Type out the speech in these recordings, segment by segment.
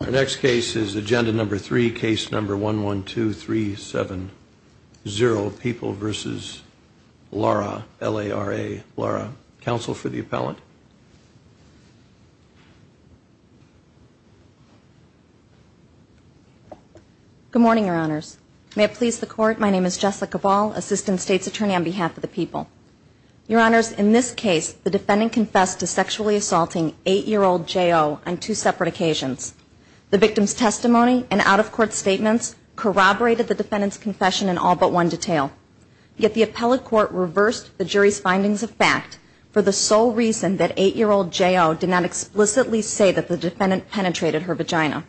Our next case is agenda number three, case number 112370, People v. Lara, L-A-R-A, Lara. Counsel for the appellant. Good morning, Your Honors. May it please the Court, my name is Jessica Ball, Assistant States Attorney on behalf of the People. Your Honors, in this case, the defendant confessed to sexually assaulting eight-year-old J.O. on two separate occasions. The victim's testimony and out-of-court statements corroborated the defendant's confession in all but one detail. Yet the appellate court reversed the jury's findings of fact for the sole reason that eight-year-old J.O. did not explicitly say that the defendant penetrated her vagina.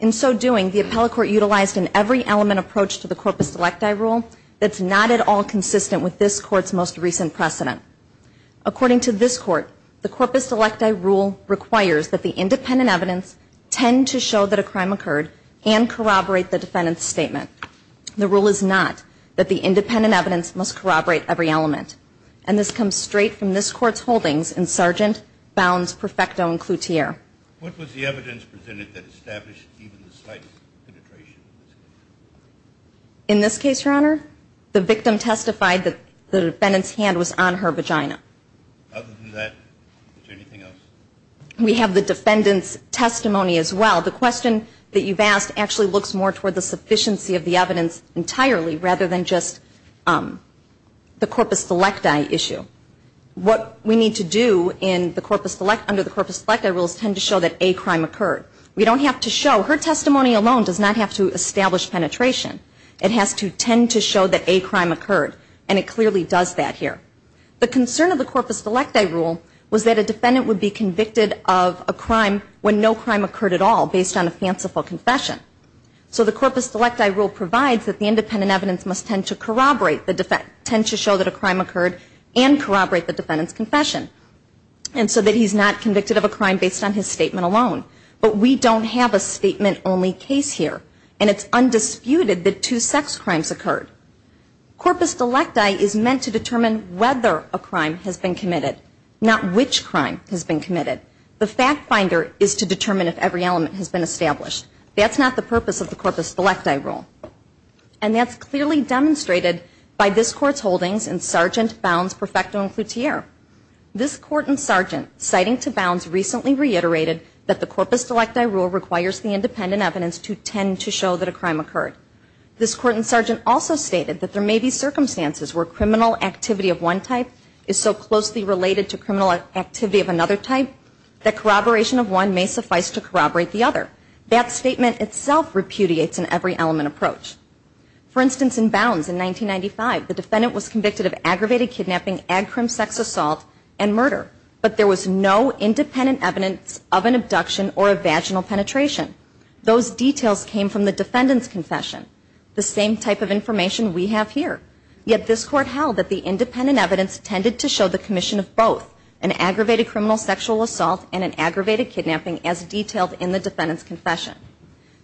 In so doing, the appellate court utilized an every-element approach to the corpus electi rule that's not at all consistent with this Court's most recent precedent. According to this Court, the corpus electi rule requires that the independent evidence tend to show that a crime occurred and corroborate the defendant's statement. The rule is not that the independent evidence must corroborate every element. And this comes straight from this Court's holdings in Sargent, Bounds, Perfecto, and Cloutier. In this case, Your Honor, the victim testified that the defendant's hand was on her vagina. Other than that, is there anything else? We have the defendant's testimony as well. The question that you've asked actually looks more toward the sufficiency of the evidence entirely rather than just the corpus electi issue. What we need to do under the corpus electi rule is tend to show that a crime occurred. We don't have to show. Her testimony alone does not have to establish penetration. It has to tend to show that a crime occurred, and it clearly does that here. The concern of the corpus electi rule was that a defendant would be convicted of a crime when no crime occurred at all based on a fanciful confession. So the corpus electi rule provides that the independent evidence must tend to show that a crime occurred and corroborate the defendant's confession so that he's not convicted of a crime based on his statement alone. But we don't have a statement-only case here, and it's undisputed that two sex crimes occurred. Corpus electi is meant to determine whether a crime has been committed, not which crime has been committed. The fact finder is to determine if every element has been established. That's not the purpose of the corpus electi rule. And that's clearly demonstrated by this Court's holdings in Sargent, Bounds, Perfecto, and Cloutier. This Court in Sargent, citing to Bounds, recently reiterated that the corpus electi rule requires the independent evidence to tend to show that a crime occurred. This Court in Sargent also stated that there may be circumstances where criminal activity of one type is so closely related to criminal activity of another type that corroboration of one may suffice to corroborate the other. That statement itself repudiates an every-element approach. For instance, in Bounds, in 1995, the defendant was convicted of aggravated kidnapping, agrim sex assault, and murder, but there was no independent evidence of an abduction or a vaginal penetration. Those details came from the defendant's confession, the same type of information we have here. Yet this Court held that the independent evidence tended to show the commission of both, an aggravated criminal sexual assault and an aggravated kidnapping as detailed in the defendant's confession.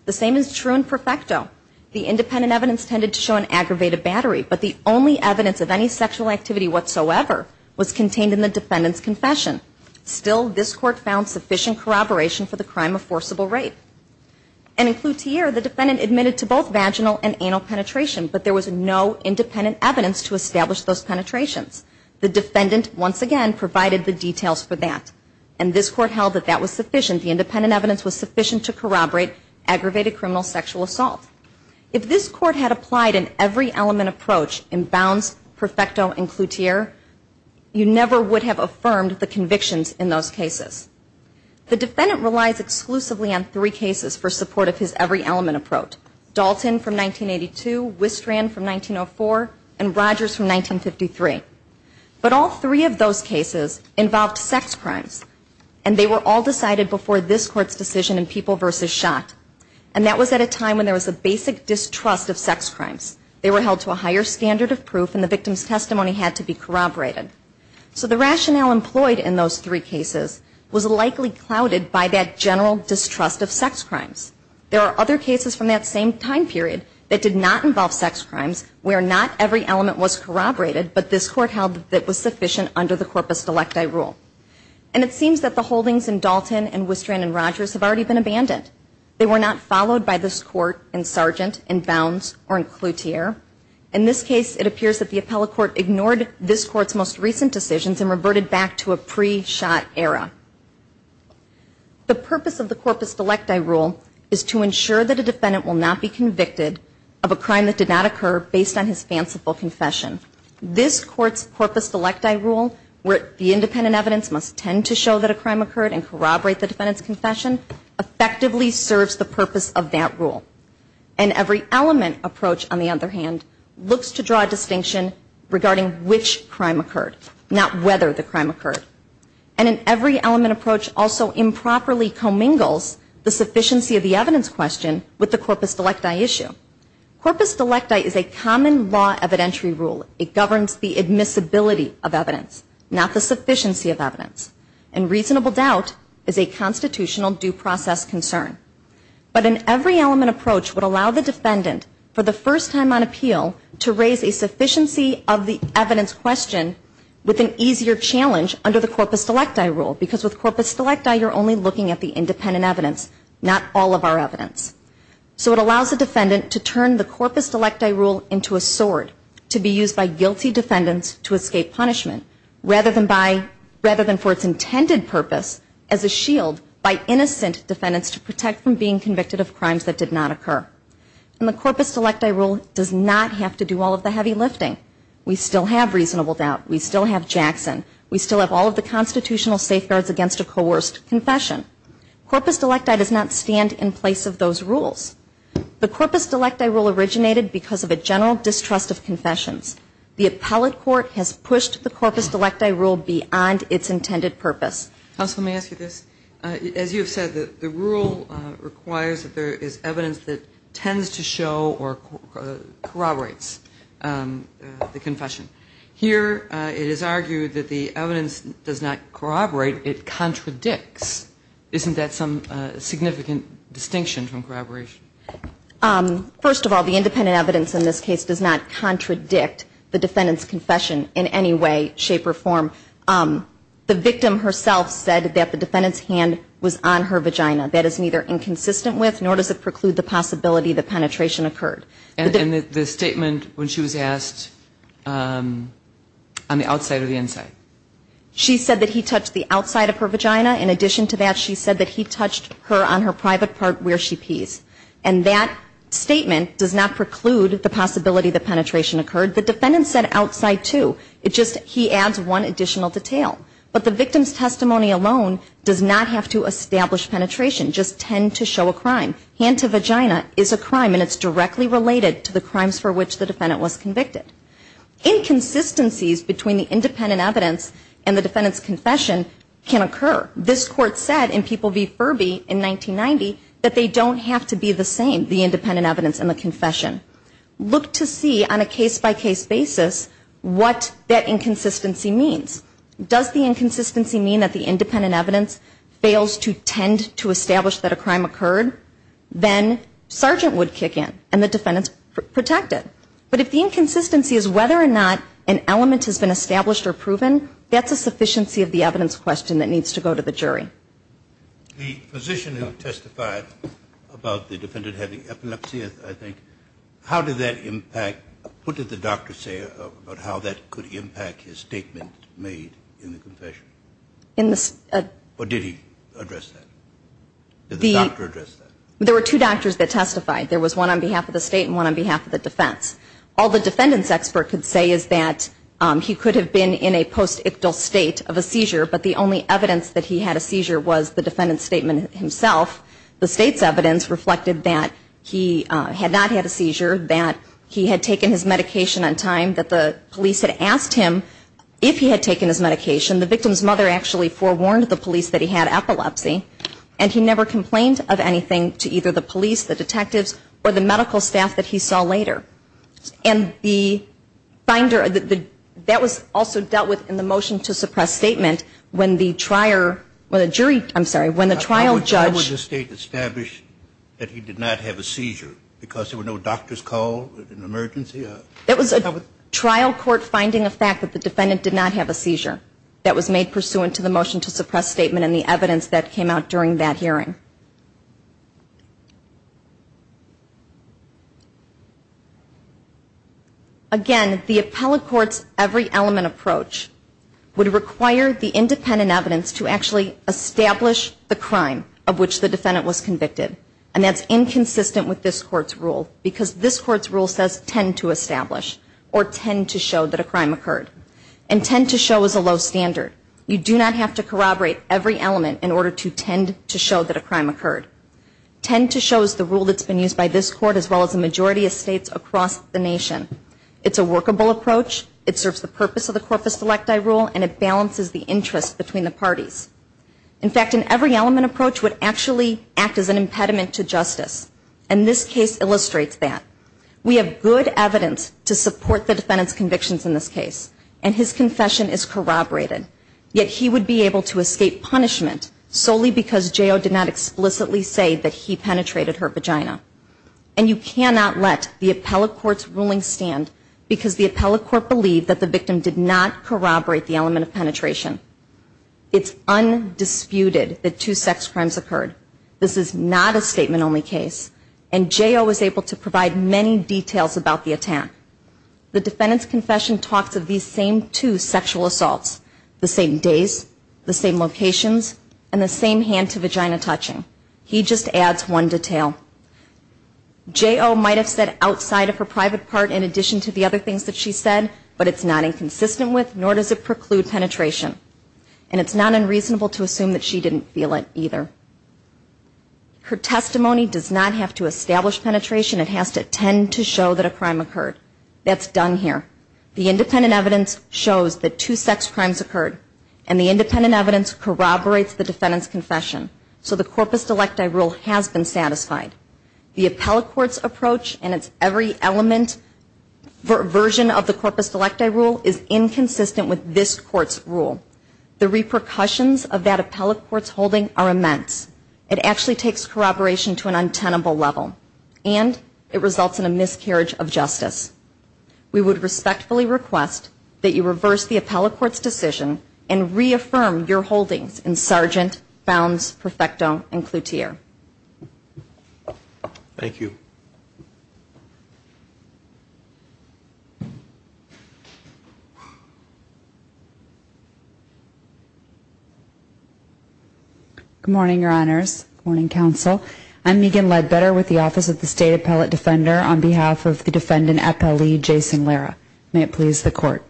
The same is true in Perfecto. The independent evidence tended to show an aggravated battery, but the only evidence of any sexual activity whatsoever was contained in the defendant's confession. Still, this Court found sufficient corroboration for the crime of forcible rape. And in Cloutier, the defendant admitted to both vaginal and anal penetration, but there was no independent evidence to establish those penetrations. The defendant, once again, provided the details for that. And this Court held that that was sufficient. The independent evidence was sufficient to corroborate aggravated criminal sexual assault. If this Court had applied an every-element approach in Bounds, Perfecto, and Cloutier, you never would have affirmed the convictions in those cases. The defendant relies exclusively on three cases for support of his every-element approach. Dalton from 1982, Wistrand from 1904, and Rogers from 1953. But all three of those cases involved sex crimes, and they were all decided before this Court's decision in People v. Schott. And that was at a time when there was a basic distrust of sex crimes. They were held to a higher standard of proof, and the victim's testimony had to be corroborated. So the rationale employed in those three cases was likely clouded by that general distrust of sex crimes. There are other cases from that same time period that did not involve sex crimes where not every element was corroborated, but this Court held that that was sufficient under the corpus delecti rule. And it seems that the holdings in Dalton and Wistrand and Rogers have already been abandoned. They were not followed by this Court in Sargent, in Bounds, or in Cloutier. In this case, it appears that the appellate court ignored this Court's most recent decisions and reverted back to a pre-Schott era. The purpose of the corpus delecti rule is to ensure that a defendant will not be convicted of a crime that did not occur based on his fanciful confession. This Court's corpus delecti rule, where the independent evidence must tend to show that a crime occurred and corroborate the defendant's confession, effectively serves the purpose of that rule. An every element approach, on the other hand, looks to draw a distinction regarding which crime occurred, not whether the crime occurred. And an every element approach also improperly commingles the sufficiency of the evidence question with the corpus delecti issue. Corpus delecti is a common law evidentiary rule. It governs the admissibility of evidence, not the sufficiency of evidence. And reasonable doubt is a constitutional due process concern. But an every element approach would allow the defendant, for the first time on appeal, to raise a sufficiency of the evidence question with an easier challenge under the corpus delecti rule. Because with corpus delecti, you're only looking at the independent evidence, not all of our evidence. And the corpus delecti rule does not have to do all of the heavy lifting. We still have reasonable doubt. We still have Jackson. We still have all of the constitutional safeguards against a coerced confession. Corpus delecti does not stand in place of those rules. The corpus delecti rule originated because of a general distrust of Corpus delecti does not stand in place of those rules. The appellate court has pushed the corpus delecti rule beyond its intended purpose. Counsel, may I ask you this? As you have said, the rule requires that there is evidence that tends to show or corroborates the confession. Here it is argued that the evidence does not corroborate. It contradicts. Isn't that some significant distinction from corroboration? First of all, the independent evidence in this case does not contradict the defendant's confession in any way, shape or form. The victim herself said that the defendant's hand was on her vagina. That is neither inconsistent with nor does it preclude the possibility that penetration occurred. And the statement when she was asked on the outside or the inside? She said that he touched the outside of her vagina. In addition to that, she said that he touched her on her private part where she pees. And that statement does not preclude the possibility that penetration occurred. The defendant said outside, too. It's just he adds one additional detail. But the victim's testimony alone does not have to establish penetration, just tend to show a crime. Hand to vagina is a crime and it's directly related to the crimes for which the defendant was convicted. Inconsistencies between the independent evidence and the defendant's confession can occur. This Court said in People v. Furby in 1990 that they don't have to be the same, the independent evidence and the confession. Look to see on a case-by-case basis what that inconsistency means. Does the inconsistency mean that the independent evidence fails to tend to establish that a crime occurred? Then Sergeant would kick in and the defendant's protected. But if the inconsistency is whether or not an element has been established or proven, that's a sufficiency of the evidence question that needs to go to court. The position that testified about the defendant having epilepsy, I think, how did that impact? What did the doctor say about how that could impact his statement made in the confession? Or did he address that? Did the doctor address that? There were two doctors that testified. There was one on behalf of the state and one on behalf of the defense. All the defendant's expert could say is that he could have been in a post-ictal state of a seizure, but the only evidence that he had a seizure was the defendant's statement himself. The state's evidence reflected that he had not had a seizure, that he had taken his medication on time, that the police had asked him if he had taken his medication. The victim's mother actually forewarned the police that he had epilepsy, and he never complained of anything to either the police, the detectives, or the medical staff that he saw later. And the finder, that was also dealt with in the moment that the defendant made the motion to suppress statement when the jury, I'm sorry, when the trial judge. How was the state established that he did not have a seizure? Because there were no doctors called? An emergency? It was a trial court finding a fact that the defendant did not have a seizure that was made pursuant to the motion to suppress statement and the evidence that came out during that hearing. Again, the appellate court's every element approach, would require the independent evidence to actually establish the crime of which the defendant was convicted. And that's inconsistent with this court's rule because this court's rule says tend to establish or tend to show that a crime occurred. And tend to show is a low standard. You do not have to corroborate every element in order to tend to show that a crime occurred. Tend to show is the rule that's been used by this court as well as the majority of states across the nation. It's a workable approach. It serves the purpose of the corpus electi rule and it balances the interest between the parties. In fact, an every element approach would actually act as an impediment to justice. And this case illustrates that. We have good evidence to support the defendant's convictions in this case. And his confession is corroborated. Yet he would be able to escape punishment solely because J.O. did not understand because the appellate court believed that the victim did not corroborate the element of penetration. It's undisputed that two sex crimes occurred. This is not a statement only case. And J.O. was able to provide many details about the attack. The defendant's confession talks of these same two sexual assaults. The same days. The same locations. And the same hand to vagina touching. He just adds one detail. J.O. might have said outside of her private part in addition to the other things that she said, but it's not inconsistent with nor does it preclude penetration. And it's not unreasonable to assume that she didn't feel it either. Her testimony does not have to establish penetration. It has to tend to show that a crime occurred. That's done here. The independent evidence shows that two sex crimes occurred. And the independent evidence corroborates the defendant's confession. So the corpus delecti rule has been satisfied. The appellate court's approach and its every element version of the corpus delecti rule is inconsistent with this court's rule. The repercussions of that appellate court's holding are immense. It actually takes corroboration to an untenable level. And it results in a miscarriage of justice. We would respectfully request that you reverse the appellate court's decision and that the defendant's confession be considered. And reaffirm your holdings in Sargent, Bounds, Perfecto, and Cloutier. Thank you. Good morning, Your Honors. Good morning, Counsel. I'm Megan Ledbetter with the Office of the State Appellate Defender. On behalf of the defendant appellee, Jason Lara, may it please the court.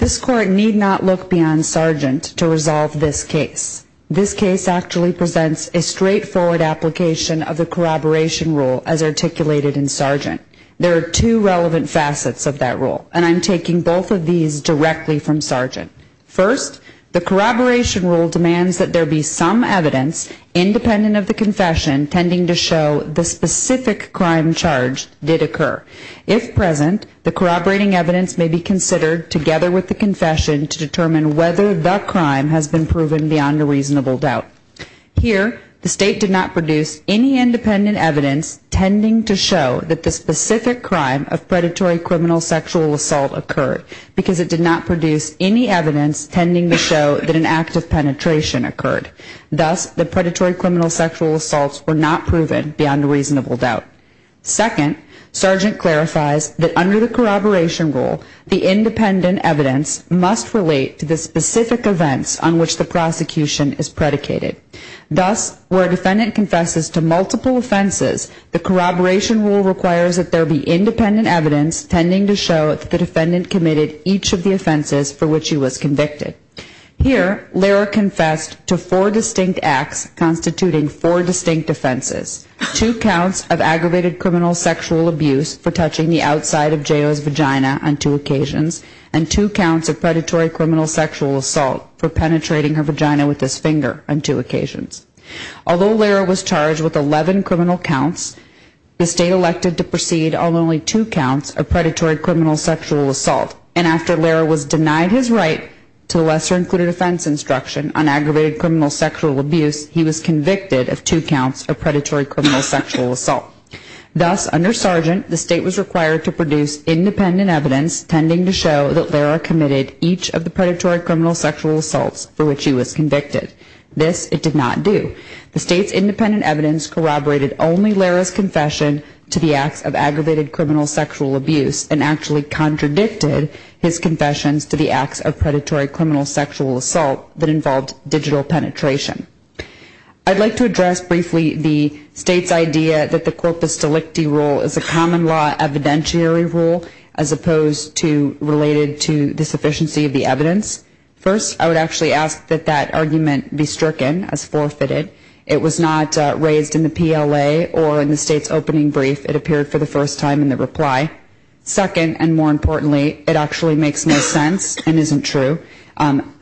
This court need not look beyond Sargent to resolve this case. This case actually presents a straightforward application of the corroboration rule as articulated in Sargent. There are two relevant facets of that rule. And I'm taking both of these directly from Sargent. First, the corroboration rule demands that there be some evidence, independent of the confession, tending to show the specific crime charge did occur. If present, the corroborating evidence may be considered together with the confession to determine whether the crime has been proven beyond a reasonable doubt. Here, the State did not produce any independent evidence tending to show that the specific crime of predatory criminal sexual assault occurred because it did not produce any evidence tending to show that an act of penetration occurred. Thus, the predatory criminal sexual assaults were not proven beyond a reasonable doubt. Second, Sargent clarifies that under the corroboration rule, the independent evidence must relate to the specific events on which the prosecution is predicated. Thus, where a defendant confesses to multiple offenses, the corroboration rule requires that there be independent evidence tending to show that the defendant committed each of the offenses for which he was convicted. Here, Lehrer confessed to four distinct acts constituting four distinct offenses. Two counts of aggravated criminal sexual abuse for touching the outside of J.O.'s vagina on two occasions and two counts of predatory criminal sexual assault for penetrating her vagina with his finger on two occasions. Although Lehrer was charged with 11 criminal counts, the State elected to proceed on only two counts of predatory criminal sexual assault. And after Lehrer was denied his right to lesser included offense instruction on aggravated criminal sexual abuse, he was convicted of two counts of predatory criminal sexual assault. Thus, under Sargent, the State was required to produce independent evidence tending to show that Lehrer committed each of the predatory criminal sexual assaults for which he was convicted. This it did not do. The State's independent evidence corroborated only Lehrer's confession to the acts of aggravated criminal sexual abuse and actually contradicted his confessions to the acts of predatory criminal sexual assault that involved digital penetration. I'd like to address briefly the State's idea that the corpus delicti rule is a common law evidentiary rule as opposed to related to the sufficiency of the evidence. First, I would actually ask that that argument be stricken as forfeited. It was not raised in the PLA or in the State's opening brief. It appeared for the first time in the reply. Second, and more importantly, it actually makes no sense and isn't true.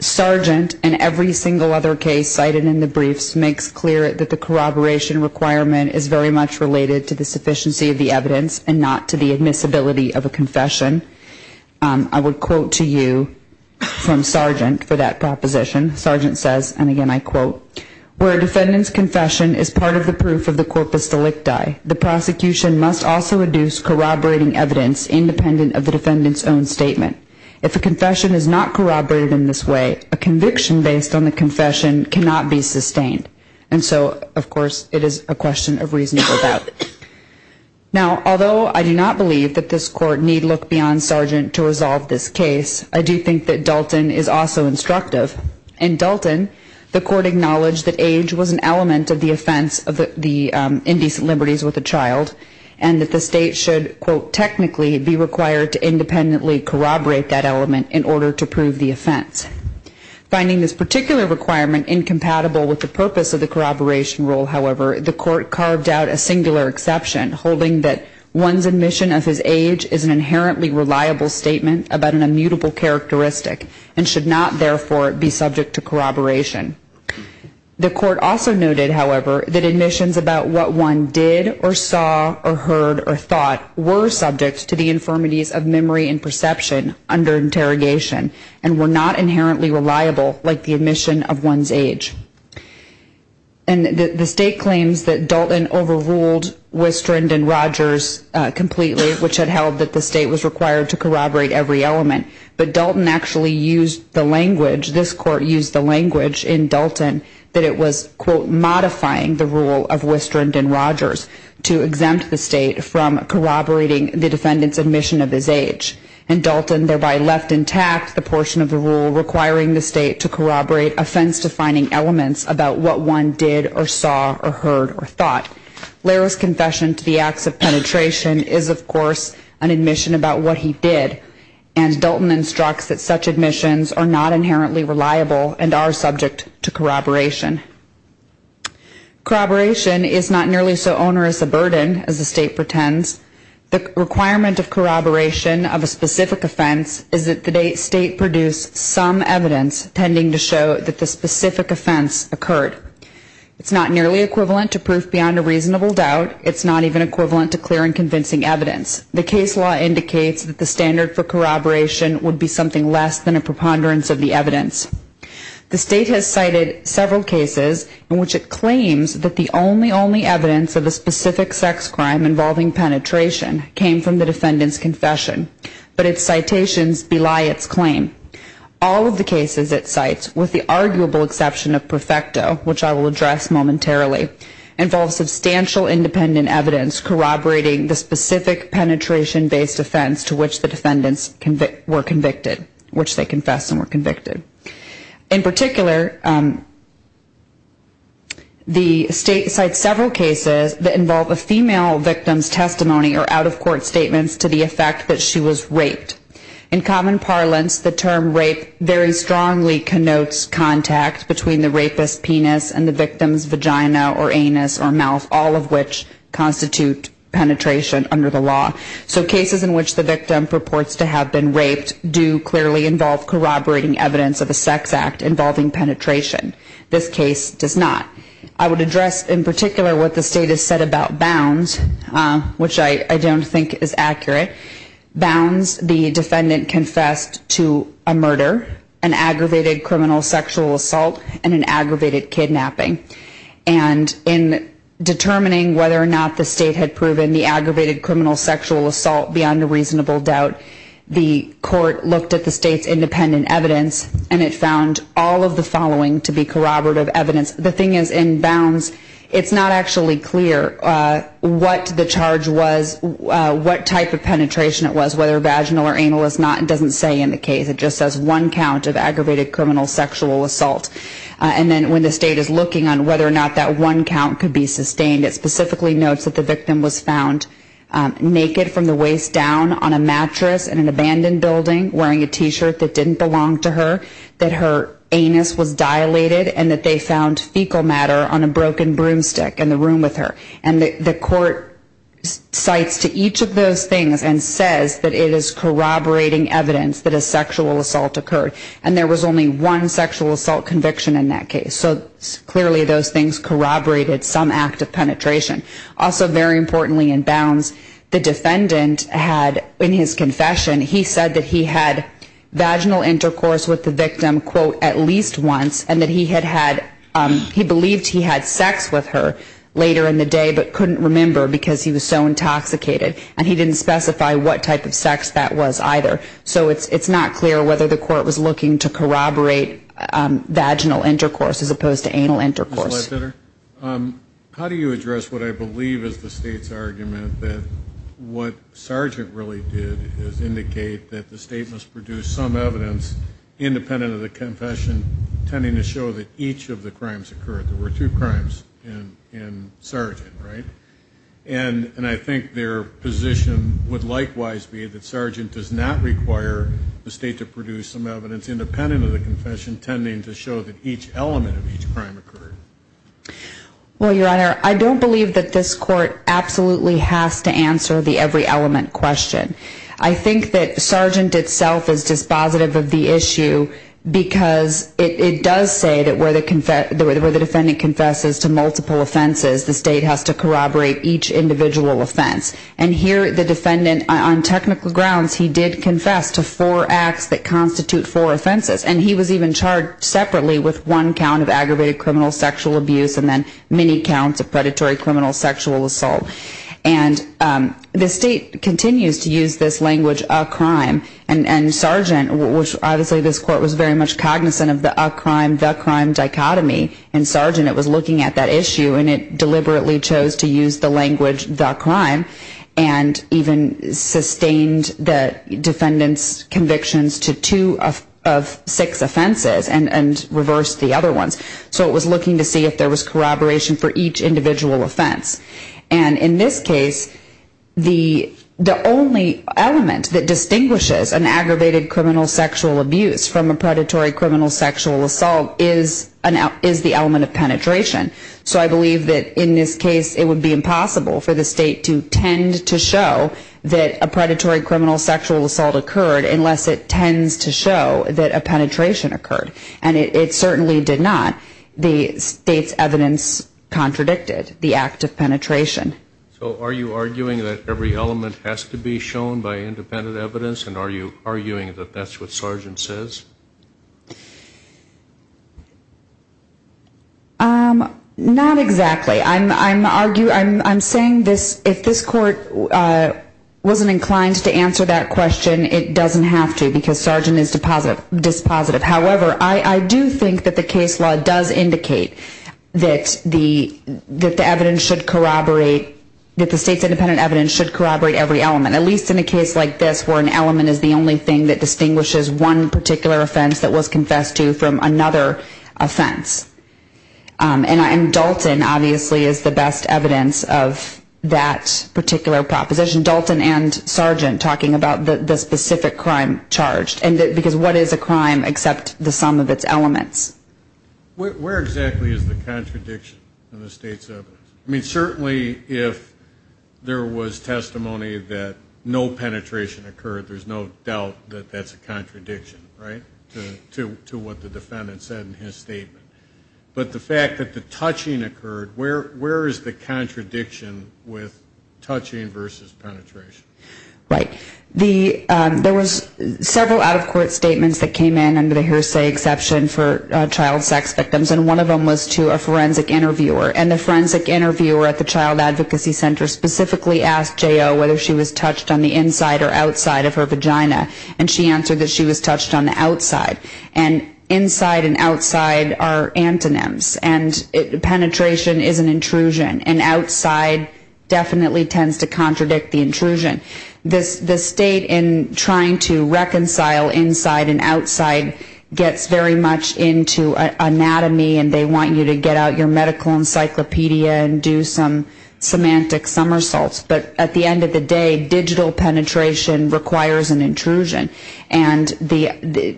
Sargent, in every single other case cited in this case, and in the briefs, makes clear that the corroboration requirement is very much related to the sufficiency of the evidence and not to the admissibility of a confession. I would quote to you from Sargent for that proposition. Sargent says, and again I quote, where a defendant's confession is part of the proof of the corpus delicti, the prosecution must also reduce corroborating evidence independent of the defendant's own statement. If a confession is not corroborated in this way, a conviction based on the confession cannot be sustained. And so, of course, it is a question of reasonable doubt. Now, although I do not believe that this Court need look beyond Sargent to resolve this case, I do think that Dalton is also instructive. In Dalton, the Court acknowledged that age was an element of the offense of the indecent liberties with a child and that the State should, quote, technically be required to independently corroborate that element in order to prove the offense. Finding this particular requirement incompatible with the purpose of the corroboration rule, however, the Court carved out a singular exception holding that one's admission of his age is an inherently reliable statement about an immutable characteristic and should not, therefore, be subject to corroboration. The Court also noted, however, that admissions about what one did or saw or heard or thought were subject to the infirmities of memory and perception under interrogation and were not inherently reliable like the admission of one's age. And the State claims that Dalton overruled Wistrand and Rogers completely, which had held that the State was required to corroborate every element. But Dalton actually used the language, this Court used the language in Dalton that it was, quote, modifying the rule of Wistrand and Rogers to exempt the State from corroborating the defendant's admission of his age. And Dalton thereby left intact the portion of the rule requiring the State to corroborate offense-defining elements about what one did or saw or heard or thought. Lehrer's confession to the acts of penetration is, of course, an admission about what he did. And Dalton instructs that such admissions are not inherently reliable and are subject to corroboration. Corroboration is not nearly so onerous a burden as the State pretends. The requirement of corroboration of a specific offense is that the State produce some evidence tending to show that the specific offense occurred. It's not nearly equivalent to proof beyond a reasonable doubt. It's not even equivalent to clear and convincing evidence. The case law indicates that the standard for corroboration would be something less than a preponderance of the evidence. The State has cited several cases in which it claims that the only, only evidence of a specific sex crime involving penetration came from the defendant's confession, but its citations belie its claim. All of the cases it cites, with the arguable exception of Prefecto, which I will address momentarily, involve substantial independent evidence corroborating the specific penetration-based offense to which the defendants were convicted, which they confessed and were convicted. In particular, the State cites several cases that involve a female victim's testimony or out-of-court statements to the effect that she was raped. In common parlance, the term rape very strongly connotes contact between the rapist's penis and the victim's vagina or anus or mouth, all of which constitute penetration under the law. So cases in which the victim purports to have been raped do clearly involve corroborating evidence of a sex act involving penetration. This case does not. I would address in particular what the State has said about bounds, which I don't think is accurate. Bounds, the defendant confessed to a murder, an aggravated criminal sexual assault, and an aggravated kidnapping. And in determining whether or not the State had proven the aggravated criminal sexual assault beyond a reasonable doubt, the court looked at the State's independent evidence and it found all of the following to be corroborative evidence. The thing is, in bounds, it's not actually clear what the charge was, what type of penetration it was, whether vaginal or anal. It doesn't say in the case. It just says one count of aggravated criminal sexual assault. And then when the State is looking on whether or not that one count could be sustained, it specifically notes that the victim was found naked from the waist down on a mattress in an abandoned building wearing a T-shirt that didn't belong to her, that her anus was dilated, and that they found fecal matter on a broken broomstick in the room with her. And the court cites to each of those things and says that it is corroborating evidence that a sexual assault occurred. And there was only one sexual assault conviction in that case. So clearly those things corroborated some act of penetration. Also, very importantly, in bounds, the defendant had, in his confession, he said that he had vaginal intercourse with the victim quote, at least once, and that he had had, he believed he had sex with her later in the day but couldn't remember because he was so intoxicated. And he didn't specify what type of sex that was either. So it's not clear whether the court was looking to corroborate vaginal intercourse as opposed to anal intercourse. Ms. Ledbetter, how do you address what I believe is the State's argument that what Sargent really did is indicate that the State must produce some evidence, independent of the confession, tending to show that each of the crimes occurred. There were two crimes in Sargent, right? And I think their position would likewise be that Sargent does not require the State to produce some evidence independent of the confession, tending to show that each element of each crime occurred. Well, Your Honor, I don't believe that this court absolutely has to answer the every element question. I think that Sargent itself is dispositive of the issue because it does say that where the defendant confesses to multiple offenses, the State has to corroborate each individual offense. And here the defendant, on technical grounds, he did confess to four acts that constitute four offenses. And he was even charged separately with one count of aggravated criminal sexual abuse and then many counts of predatory criminal sexual assault. And the State continues to use this language, a crime, and Sargent, which obviously this court was very much cognizant of the a crime, the crime dichotomy, and Sargent was looking at that issue and it deliberately chose to use the language the crime and even sustained the defendant's convictions to two of six offenses and reversed the other ones. So it was looking to see if there was corroboration for each individual offense. And in this case, the only element that distinguishes an aggravated criminal sexual abuse from a predatory criminal sexual assault is the element of penetration. So I believe that in this case it would be impossible for the State to tend to show that a predatory criminal sexual assault occurred unless it tends to show that a penetration occurred. And it certainly did not. The State's evidence contradicted the act of penetration. So are you arguing that every element has to be shown by independent evidence and are you arguing that that's what Sargent says? Not exactly. I'm saying if this court wasn't inclined to answer that question, it doesn't have to because Sargent is dispositive. However, I do think that the case law does indicate that the evidence should corroborate, that the State's independent evidence should corroborate every element, at least in a case like this where an element is the only thing that distinguishes one particular offense that was confessed to from another offense. And Dalton, obviously, is the best evidence of that particular proposition. Dalton and Sargent talking about the specific crime charged. Because what is a crime except the sum of its elements? Where exactly is the contradiction in the State's evidence? I mean, certainly if there was testimony that no penetration occurred, there's no doubt that that's a contradiction, right, to what the defendant said in his statement. But the fact that the touching occurred, where is the contradiction with touching versus penetration? Right. There was several out-of-court statements that came in under the hearsay exception for child sex victims and one of them was to a forensic interviewer. And the forensic interviewer at the Child Advocacy Center specifically asked J.O. whether she was touched on the inside or outside of her vagina. And she answered that she was touched on the outside. And inside and outside are antonyms. And penetration is an intrusion. And outside definitely tends to contradict the intrusion. The State, in trying to reconcile inside and outside, gets very much into anatomy and they want you to get out your medical encyclopedia and do some semantic somersaults. But at the end of the day, digital penetration requires an intrusion. And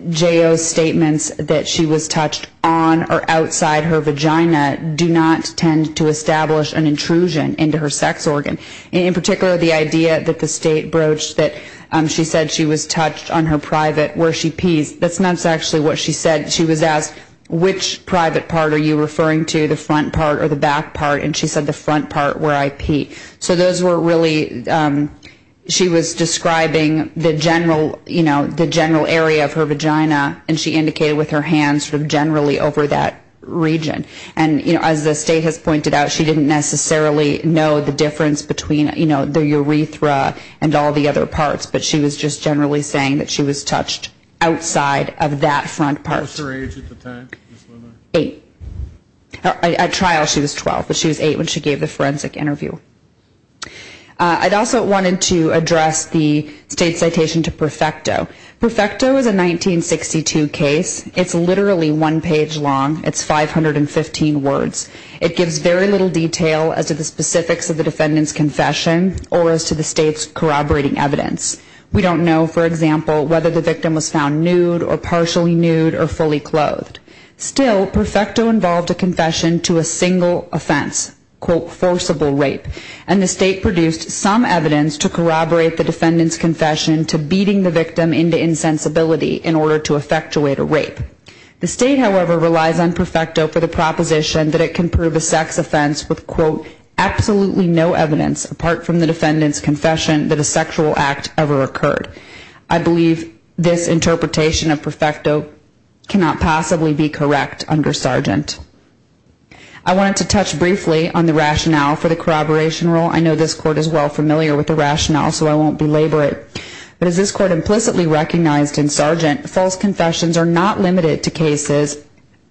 J.O.'s statements that she was touched on or outside her vagina do not tend to establish an intrusion into her sex organ. In particular, the idea that the State broached that she said she was touched on her private where she pees. That's not actually what she said. She was asked, which private part are you referring to, the front part or the back part? And she said the front part where I pee. So those were really, she was describing the general area of her vagina and she indicated with her hands sort of generally over that region. And as the State has pointed out, she didn't necessarily know the difference between the urethra and all the other parts, but she was just generally saying that she was touched outside of that front part. How old was her age at the time? Eight. At trial she was 12, but she was eight when she gave the forensic interview. I also wanted to address the State's citation to Perfecto. Perfecto is a 1962 case. It's literally one page long. It's 515 words. It gives very little detail as to the specifics of the defendant's confession or as to the State's corroborating evidence. We don't know, for example, whether the victim was found nude or partially nude or fully clothed. Still, Perfecto involved a confession to a single offense, quote, forcible rape. And the State produced some evidence to corroborate the defendant's rape. The State, however, relies on Perfecto for the proposition that it can prove a sex offense with, quote, absolutely no evidence apart from the defendant's confession that a sexual act ever occurred. I believe this interpretation of Perfecto cannot possibly be correct under Sargent. I wanted to touch briefly on the rationale for the corroboration rule. I know this Court is well familiar with the rationale, so I won't belabor it. But as this Court implicitly recognized in Sargent, false confessions are not limited to cases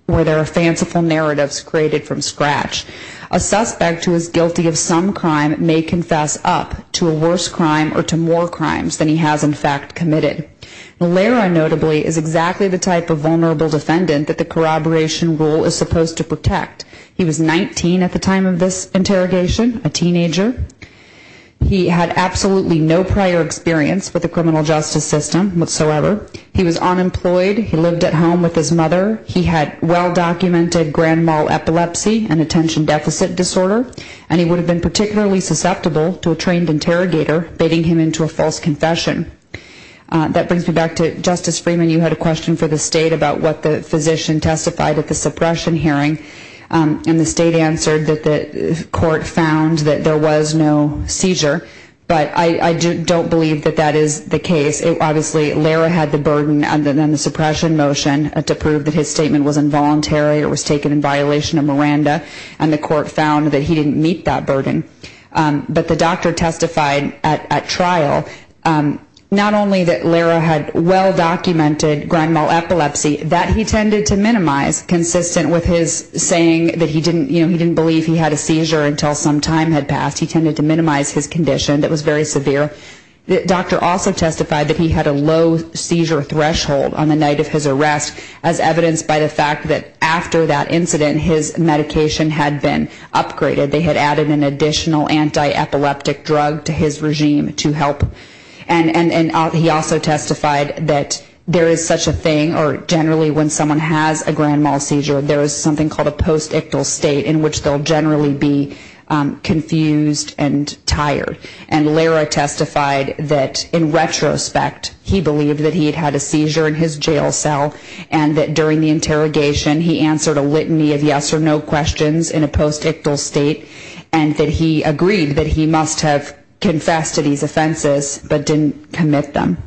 where there are fanciful narratives created from scratch. A suspect who is guilty of some crime may confess up to a worse crime or to more crimes than he has, in fact, committed. Valera, notably, is exactly the type of vulnerable defendant that the corroboration rule is supposed to protect. He was 19 at the time of this interrogation, a teenager. He had absolutely no prior experience with the criminal justice system whatsoever. He was unemployed. He lived at home with his mother. He had well-documented grand mal epilepsy, an attention deficit disorder, and he would have been particularly susceptible to a trained interrogator baiting him into a false confession. That brings me back to Justice Freeman. You had a question for the State about what the physician testified at the suppression hearing, and the State answered that the physician testified that there was no seizure. But I don't believe that that is the case. Obviously, Valera had the burden under the suppression motion to prove that his statement was involuntary or was taken in violation of Miranda, and the Court found that he didn't meet that burden. But the doctor testified at trial not only that Valera had well-documented grand mal epilepsy, that he tended to minimize consistent with his saying that he didn't believe he had a seizure until some time had passed. He tended to minimize his condition that was very severe. The doctor also testified that he had a low seizure threshold on the night of his arrest, as evidenced by the fact that after that incident, his medication had been upgraded. They had added an additional anti-epileptic drug to his regime to help. And he also testified that there is such a thing, or generally when someone has a grand mal seizure, there is something called a post-ictal state in which they'll generally be confused and tired. And Valera testified that in retrospect, he believed that he had had a seizure in his jail cell, and that during the interrogation, he answered a litany of yes or no questions in a post-ictal state, and that he agreed that he must have confessed to these offenses, but didn't commit them.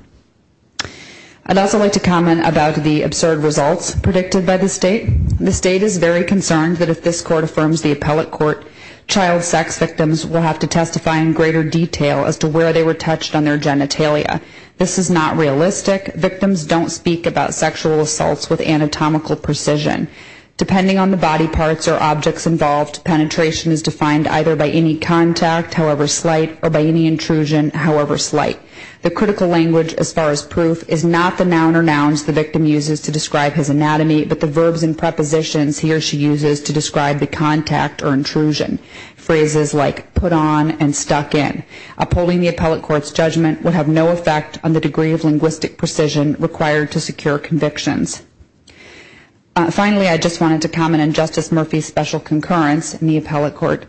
I'd also like to comment about the absurd results predicted by the state. The state is very concerned that if this court affirms the appellate court, child sex victims will have to testify in greater detail as to where they were touched on their genitalia. This is not realistic. Victims don't speak about sexual assaults with anatomical precision. Depending on the body parts or objects involved, penetration is defined either by any contact, however slight, or by any intrusion, however slight. The critical language as far as proof is not the noun or nouns the victim uses to describe his anatomy, but the verbs and prepositions he or she uses to describe the contact or intrusion, phrases like put on and stuck in. Upholding the appellate court's judgment would have no effect on the degree of linguistic precision required to secure convictions. Finally, I just wanted to comment on Justice Murphy's special concurrence in the appellate court.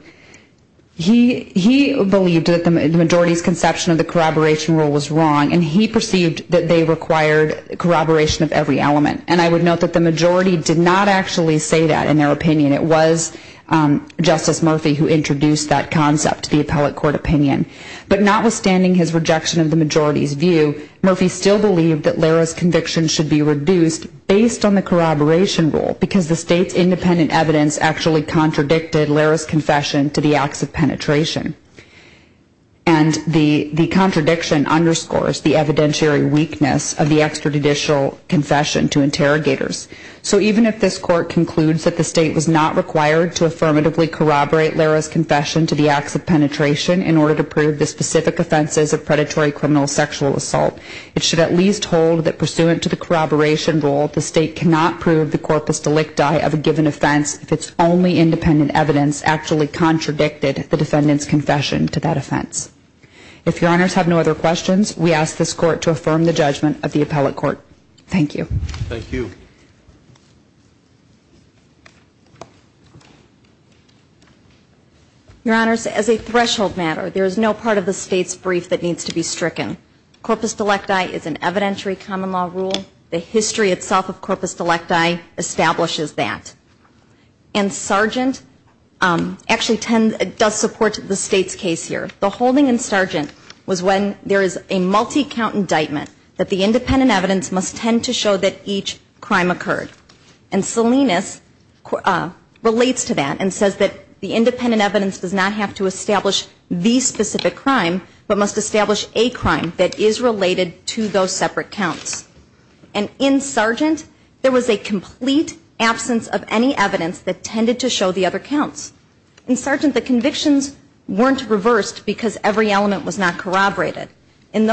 He believed that the majority's conception of the corroboration rule was wrong, and he perceived that they required corroboration of every element. And I would note that the majority did not actually say that in their opinion. It was Justice Murphy who introduced that concept to the appellate court opinion. But notwithstanding his rejection of the majority's view, Murphy still believed that Lara's convictions should be corroborated. And the contradiction underscores the evidentiary weakness of the extrajudicial confession to interrogators. So even if this court concludes that the state was not required to affirmatively corroborate Lara's confession to the acts of penetration in order to prove the specific offenses of predatory criminal sexual assault, it should at least hold that pursuant to the corroboration rule, the state cannot prove the corpus delicti of a given offense if its only independent evidence actually contradicted the defendant's confession to that offense. If your honors have no other questions, we ask this court to affirm the judgment of the appellate court. Thank you. Thank you. Your honors, as a threshold matter, there is no part of the state's brief that needs to be stricken. Corpus delicti is an evidentiary common law rule. The history itself of corpus delicti establishes that. And Sargent actually does support the state's case here. The holding in Sargent was when there is a multi-count indictment that the independent evidence must tend to show that each crime occurred. And Salinas relates to that and says that the independent evidence does not have to establish the specific crime, but must establish a crime that is related to those separate counts. And in Sargent, there was a complete absence of any evidence that tended to show the other counts. In Sargent, the convictions weren't reversed because every element was not corroborated. In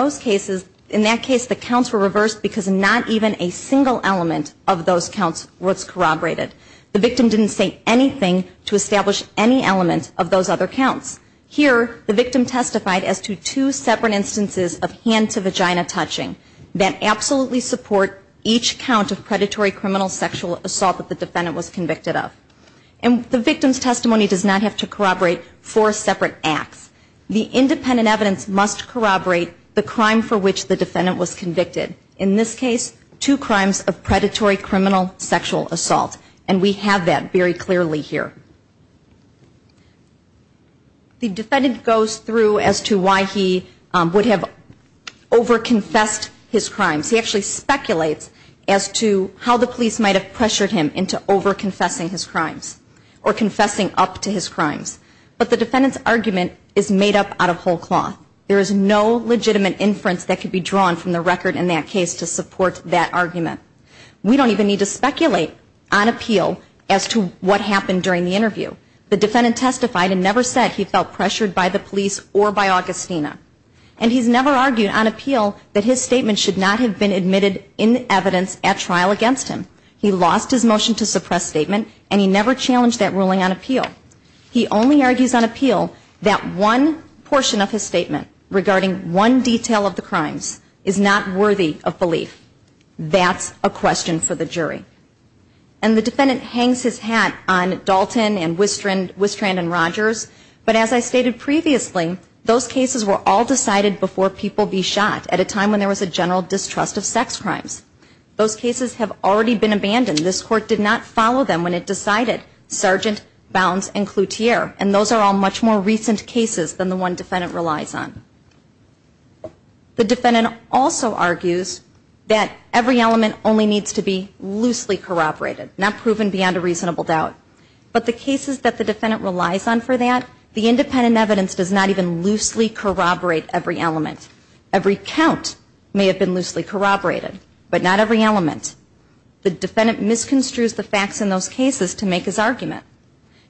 that case, the counts were reversed because not even a single element of those counts was corroborated. The victim didn't say anything to establish any element of those other counts. Here, the victim testified as to two separate instances of hand-to-vagina touching that absolutely support each count of predatory criminal sexual assault that the defendant was convicted of. And the victim's testimony does not have to corroborate four separate acts. The independent evidence must corroborate the crime for which the defendant was convicted. In this case, two crimes of predatory criminal sexual assault. And we have that very clearly here. The defendant goes through as to why he would have over-confessed his crimes. He actually speculates as to how the police might have pressured him into over-confessing his crimes or confessing up to his crimes. But the defendant's argument is made up out of whole cloth. There is no legitimate inference that could be drawn from the record in that case to support that argument. We don't even need to speculate on appeal as to what happened during the interview. The defendant testified and never said he felt pressured by the police or by Augustina. And he's never argued on appeal that his statement should not have been admitted in evidence at trial against him. He lost his motion to suppress statement and he never challenged that ruling on appeal. He only argues on appeal that one portion of his statement regarding one detail of the crimes is not worthy of belief. That's a question for the jury. And the defendant hangs his hat on Dalton and Wistrand and Rogers. But as I stated previously, those cases were all decided before people be shot at a time when there was a general distrust of sex crimes. Those cases have already been abandoned. This Court did not follow them when it decided Sargent, Bounds and Cloutier. And those are all much more recent cases than the one defendant relies on. The defendant also argues that every element only needs to be loosened or loosely corroborated. Not proven beyond a reasonable doubt. But the cases that the defendant relies on for that, the independent evidence does not even loosely corroborate every element. Every count may have been loosely corroborated. But not every element. The defendant misconstrues the facts in those cases to make his argument.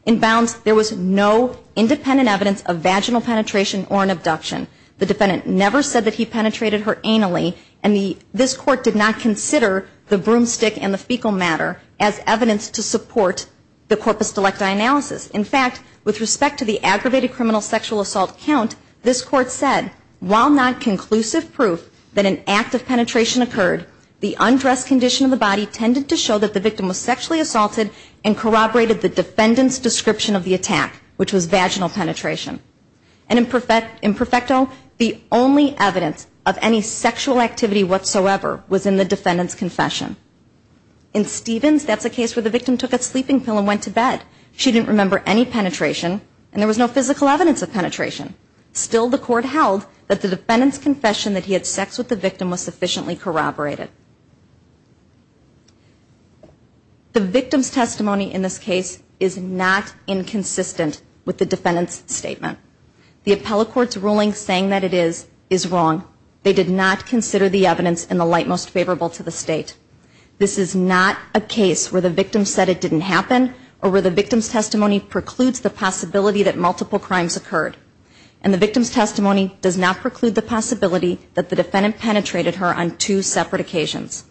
In Bounds, there was no independent evidence of vaginal penetration or an abduction. The defendant never said that he penetrated her anally. And this Court did not consider the broomstick and the fecal matter as evidence to support the corpus delecti analysis. In fact, with respect to the aggravated criminal sexual assault count, this Court said, while not conclusive proof that an act of penetration occurred, the undressed condition of the body tended to show that the victim was sexually assaulted and corroborated the defendant's An imperfection of the body was found in Bounds. In facto, the only evidence of any sexual activity whatsoever was in the defendant's confession. In Stevens, that's a case where the victim took a sleeping pill and went to bed. She didn't remember any penetration, and there was no physical evidence of penetration. Still, the Court held that the defendant's confession that he had sex with the victim was sufficiently corroborated. The victim's testimony in this case is not inconsistent with the evidence in the light most favorable to the State. This is not a case where the victim said it didn't happen or where the victim's testimony precludes the possibility that multiple crimes occurred. And the victim's testimony does not preclude the possibility that the defendant penetrated her on two separate occasions.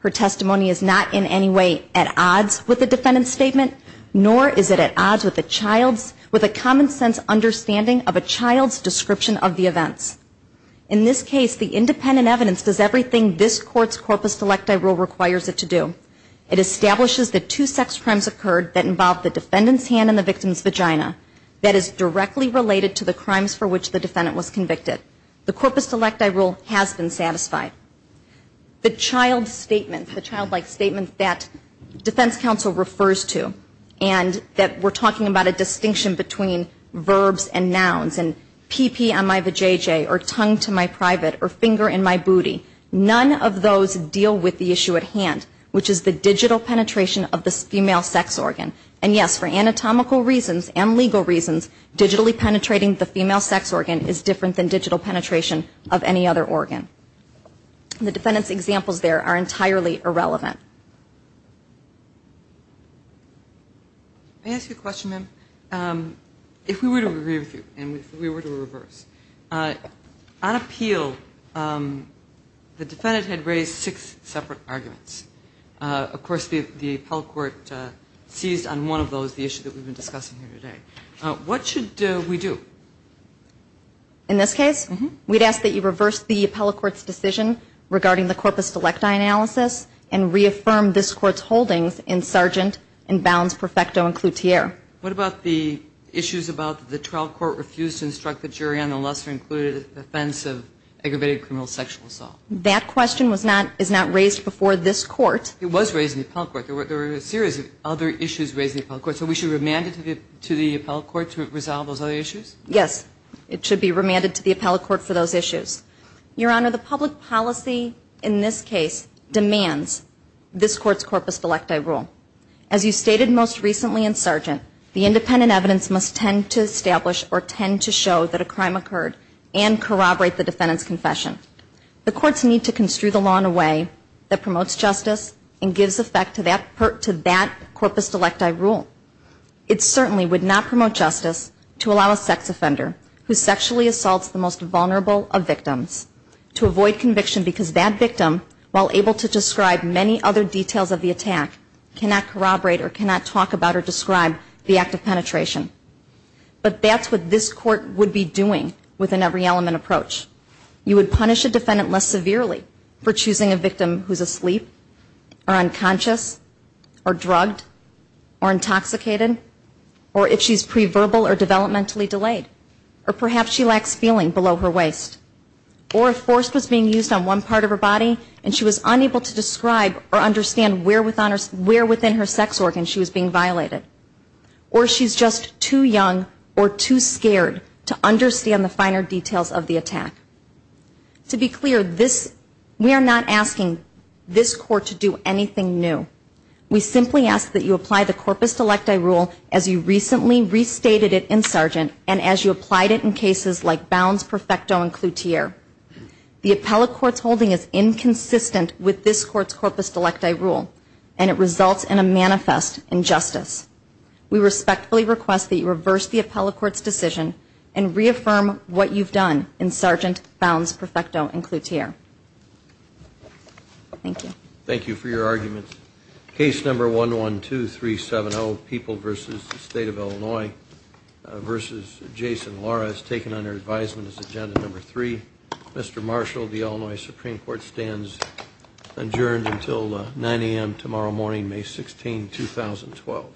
Her testimony is not in any way at odds with the defendant's statement, nor is it at odds with a child's, with a common sense understanding of a child's description of the assault. In this case, the independent evidence does everything this Court's corpus electi rule requires it to do. It establishes that two sex crimes occurred that involved the defendant's hand in the victim's vagina. That is directly related to the crimes for which the defendant was convicted. The corpus electi rule has been satisfied. The child statement, the childlike statement that defense counsel refers to, and that we're talking about a distinction between verbs and nouns, and pp on my vajayjay, or tongue to my private, or finger in my booty, none of those deal with the issue at hand, which is the digital penetration of the female sex organ. And yes, for anatomical reasons and legal reasons, digitally penetrating the female sex organ is different than digital penetration of any other organ. The defendant's examples there are entirely irrelevant. I ask you a question, ma'am. If we were to agree with you, and we fully agree with you on this, if we were to reverse, on appeal, the defendant had raised six separate arguments. Of course, the appellate court seized on one of those, the issue that we've been discussing here today. What should we do? In this case, we'd ask that you reverse the appellate court's decision regarding the corpus electi analysis, and reaffirm this court's holdings in Sargent and Bounds, Perfecto, and Cloutier. What about the issues about the trial court refused in Sargent and Bounds and struck the jury on the lesser-included offense of aggravated criminal sexual assault? That question is not raised before this court. It was raised in the appellate court. There were a series of other issues raised in the appellate court. So we should remand it to the appellate court to resolve those other issues? Yes, it should be remanded to the appellate court for those issues. Your Honor, the public policy in this case demands this court's corpus electi rule. As you stated most recently in Sargent, the independent evidence must tend to establish or tend to show that a crime occurred and corroborate the defendant's confession. The courts need to construe the law in a way that promotes justice and gives effect to that corpus electi rule. It certainly would not promote justice to allow a sex offender who sexually assaults the most vulnerable of victims to avoid conviction because that victim, while able to describe many other details of the attack, cannot corroborate or cannot talk about or describe the act of penetration. But that's what this court would be doing with an every element approach. You would punish a defendant less severely for choosing a victim who is asleep, or unconscious, or drugged, or intoxicated, or if she is pre-verbal or developmentally delayed, or perhaps she lacks feeling below her waist, or if force was being used on one part of her body and she was unable to describe or understand where within her body the force was being used. Or she's just too young or too scared to understand the finer details of the attack. To be clear, we are not asking this court to do anything new. We simply ask that you apply the corpus electi rule as you recently restated it in Sargent and as you applied it in cases like Bounds, Perfecto, and Cloutier. The appellate court's holding is inconsistent with this court's corpus rule. We respectfully request that you reverse the appellate court's decision and reaffirm what you've done in Sargent, Bounds, Perfecto, and Cloutier. Thank you. Thank you for your arguments. Case number 112370, People v. State of Illinois v. Jason Lora is taken under advisement as agenda number three. Mr. Marshall, the Illinois Supreme Court stands adjourned until 9 a.m. tomorrow morning, May 16th. Thank you.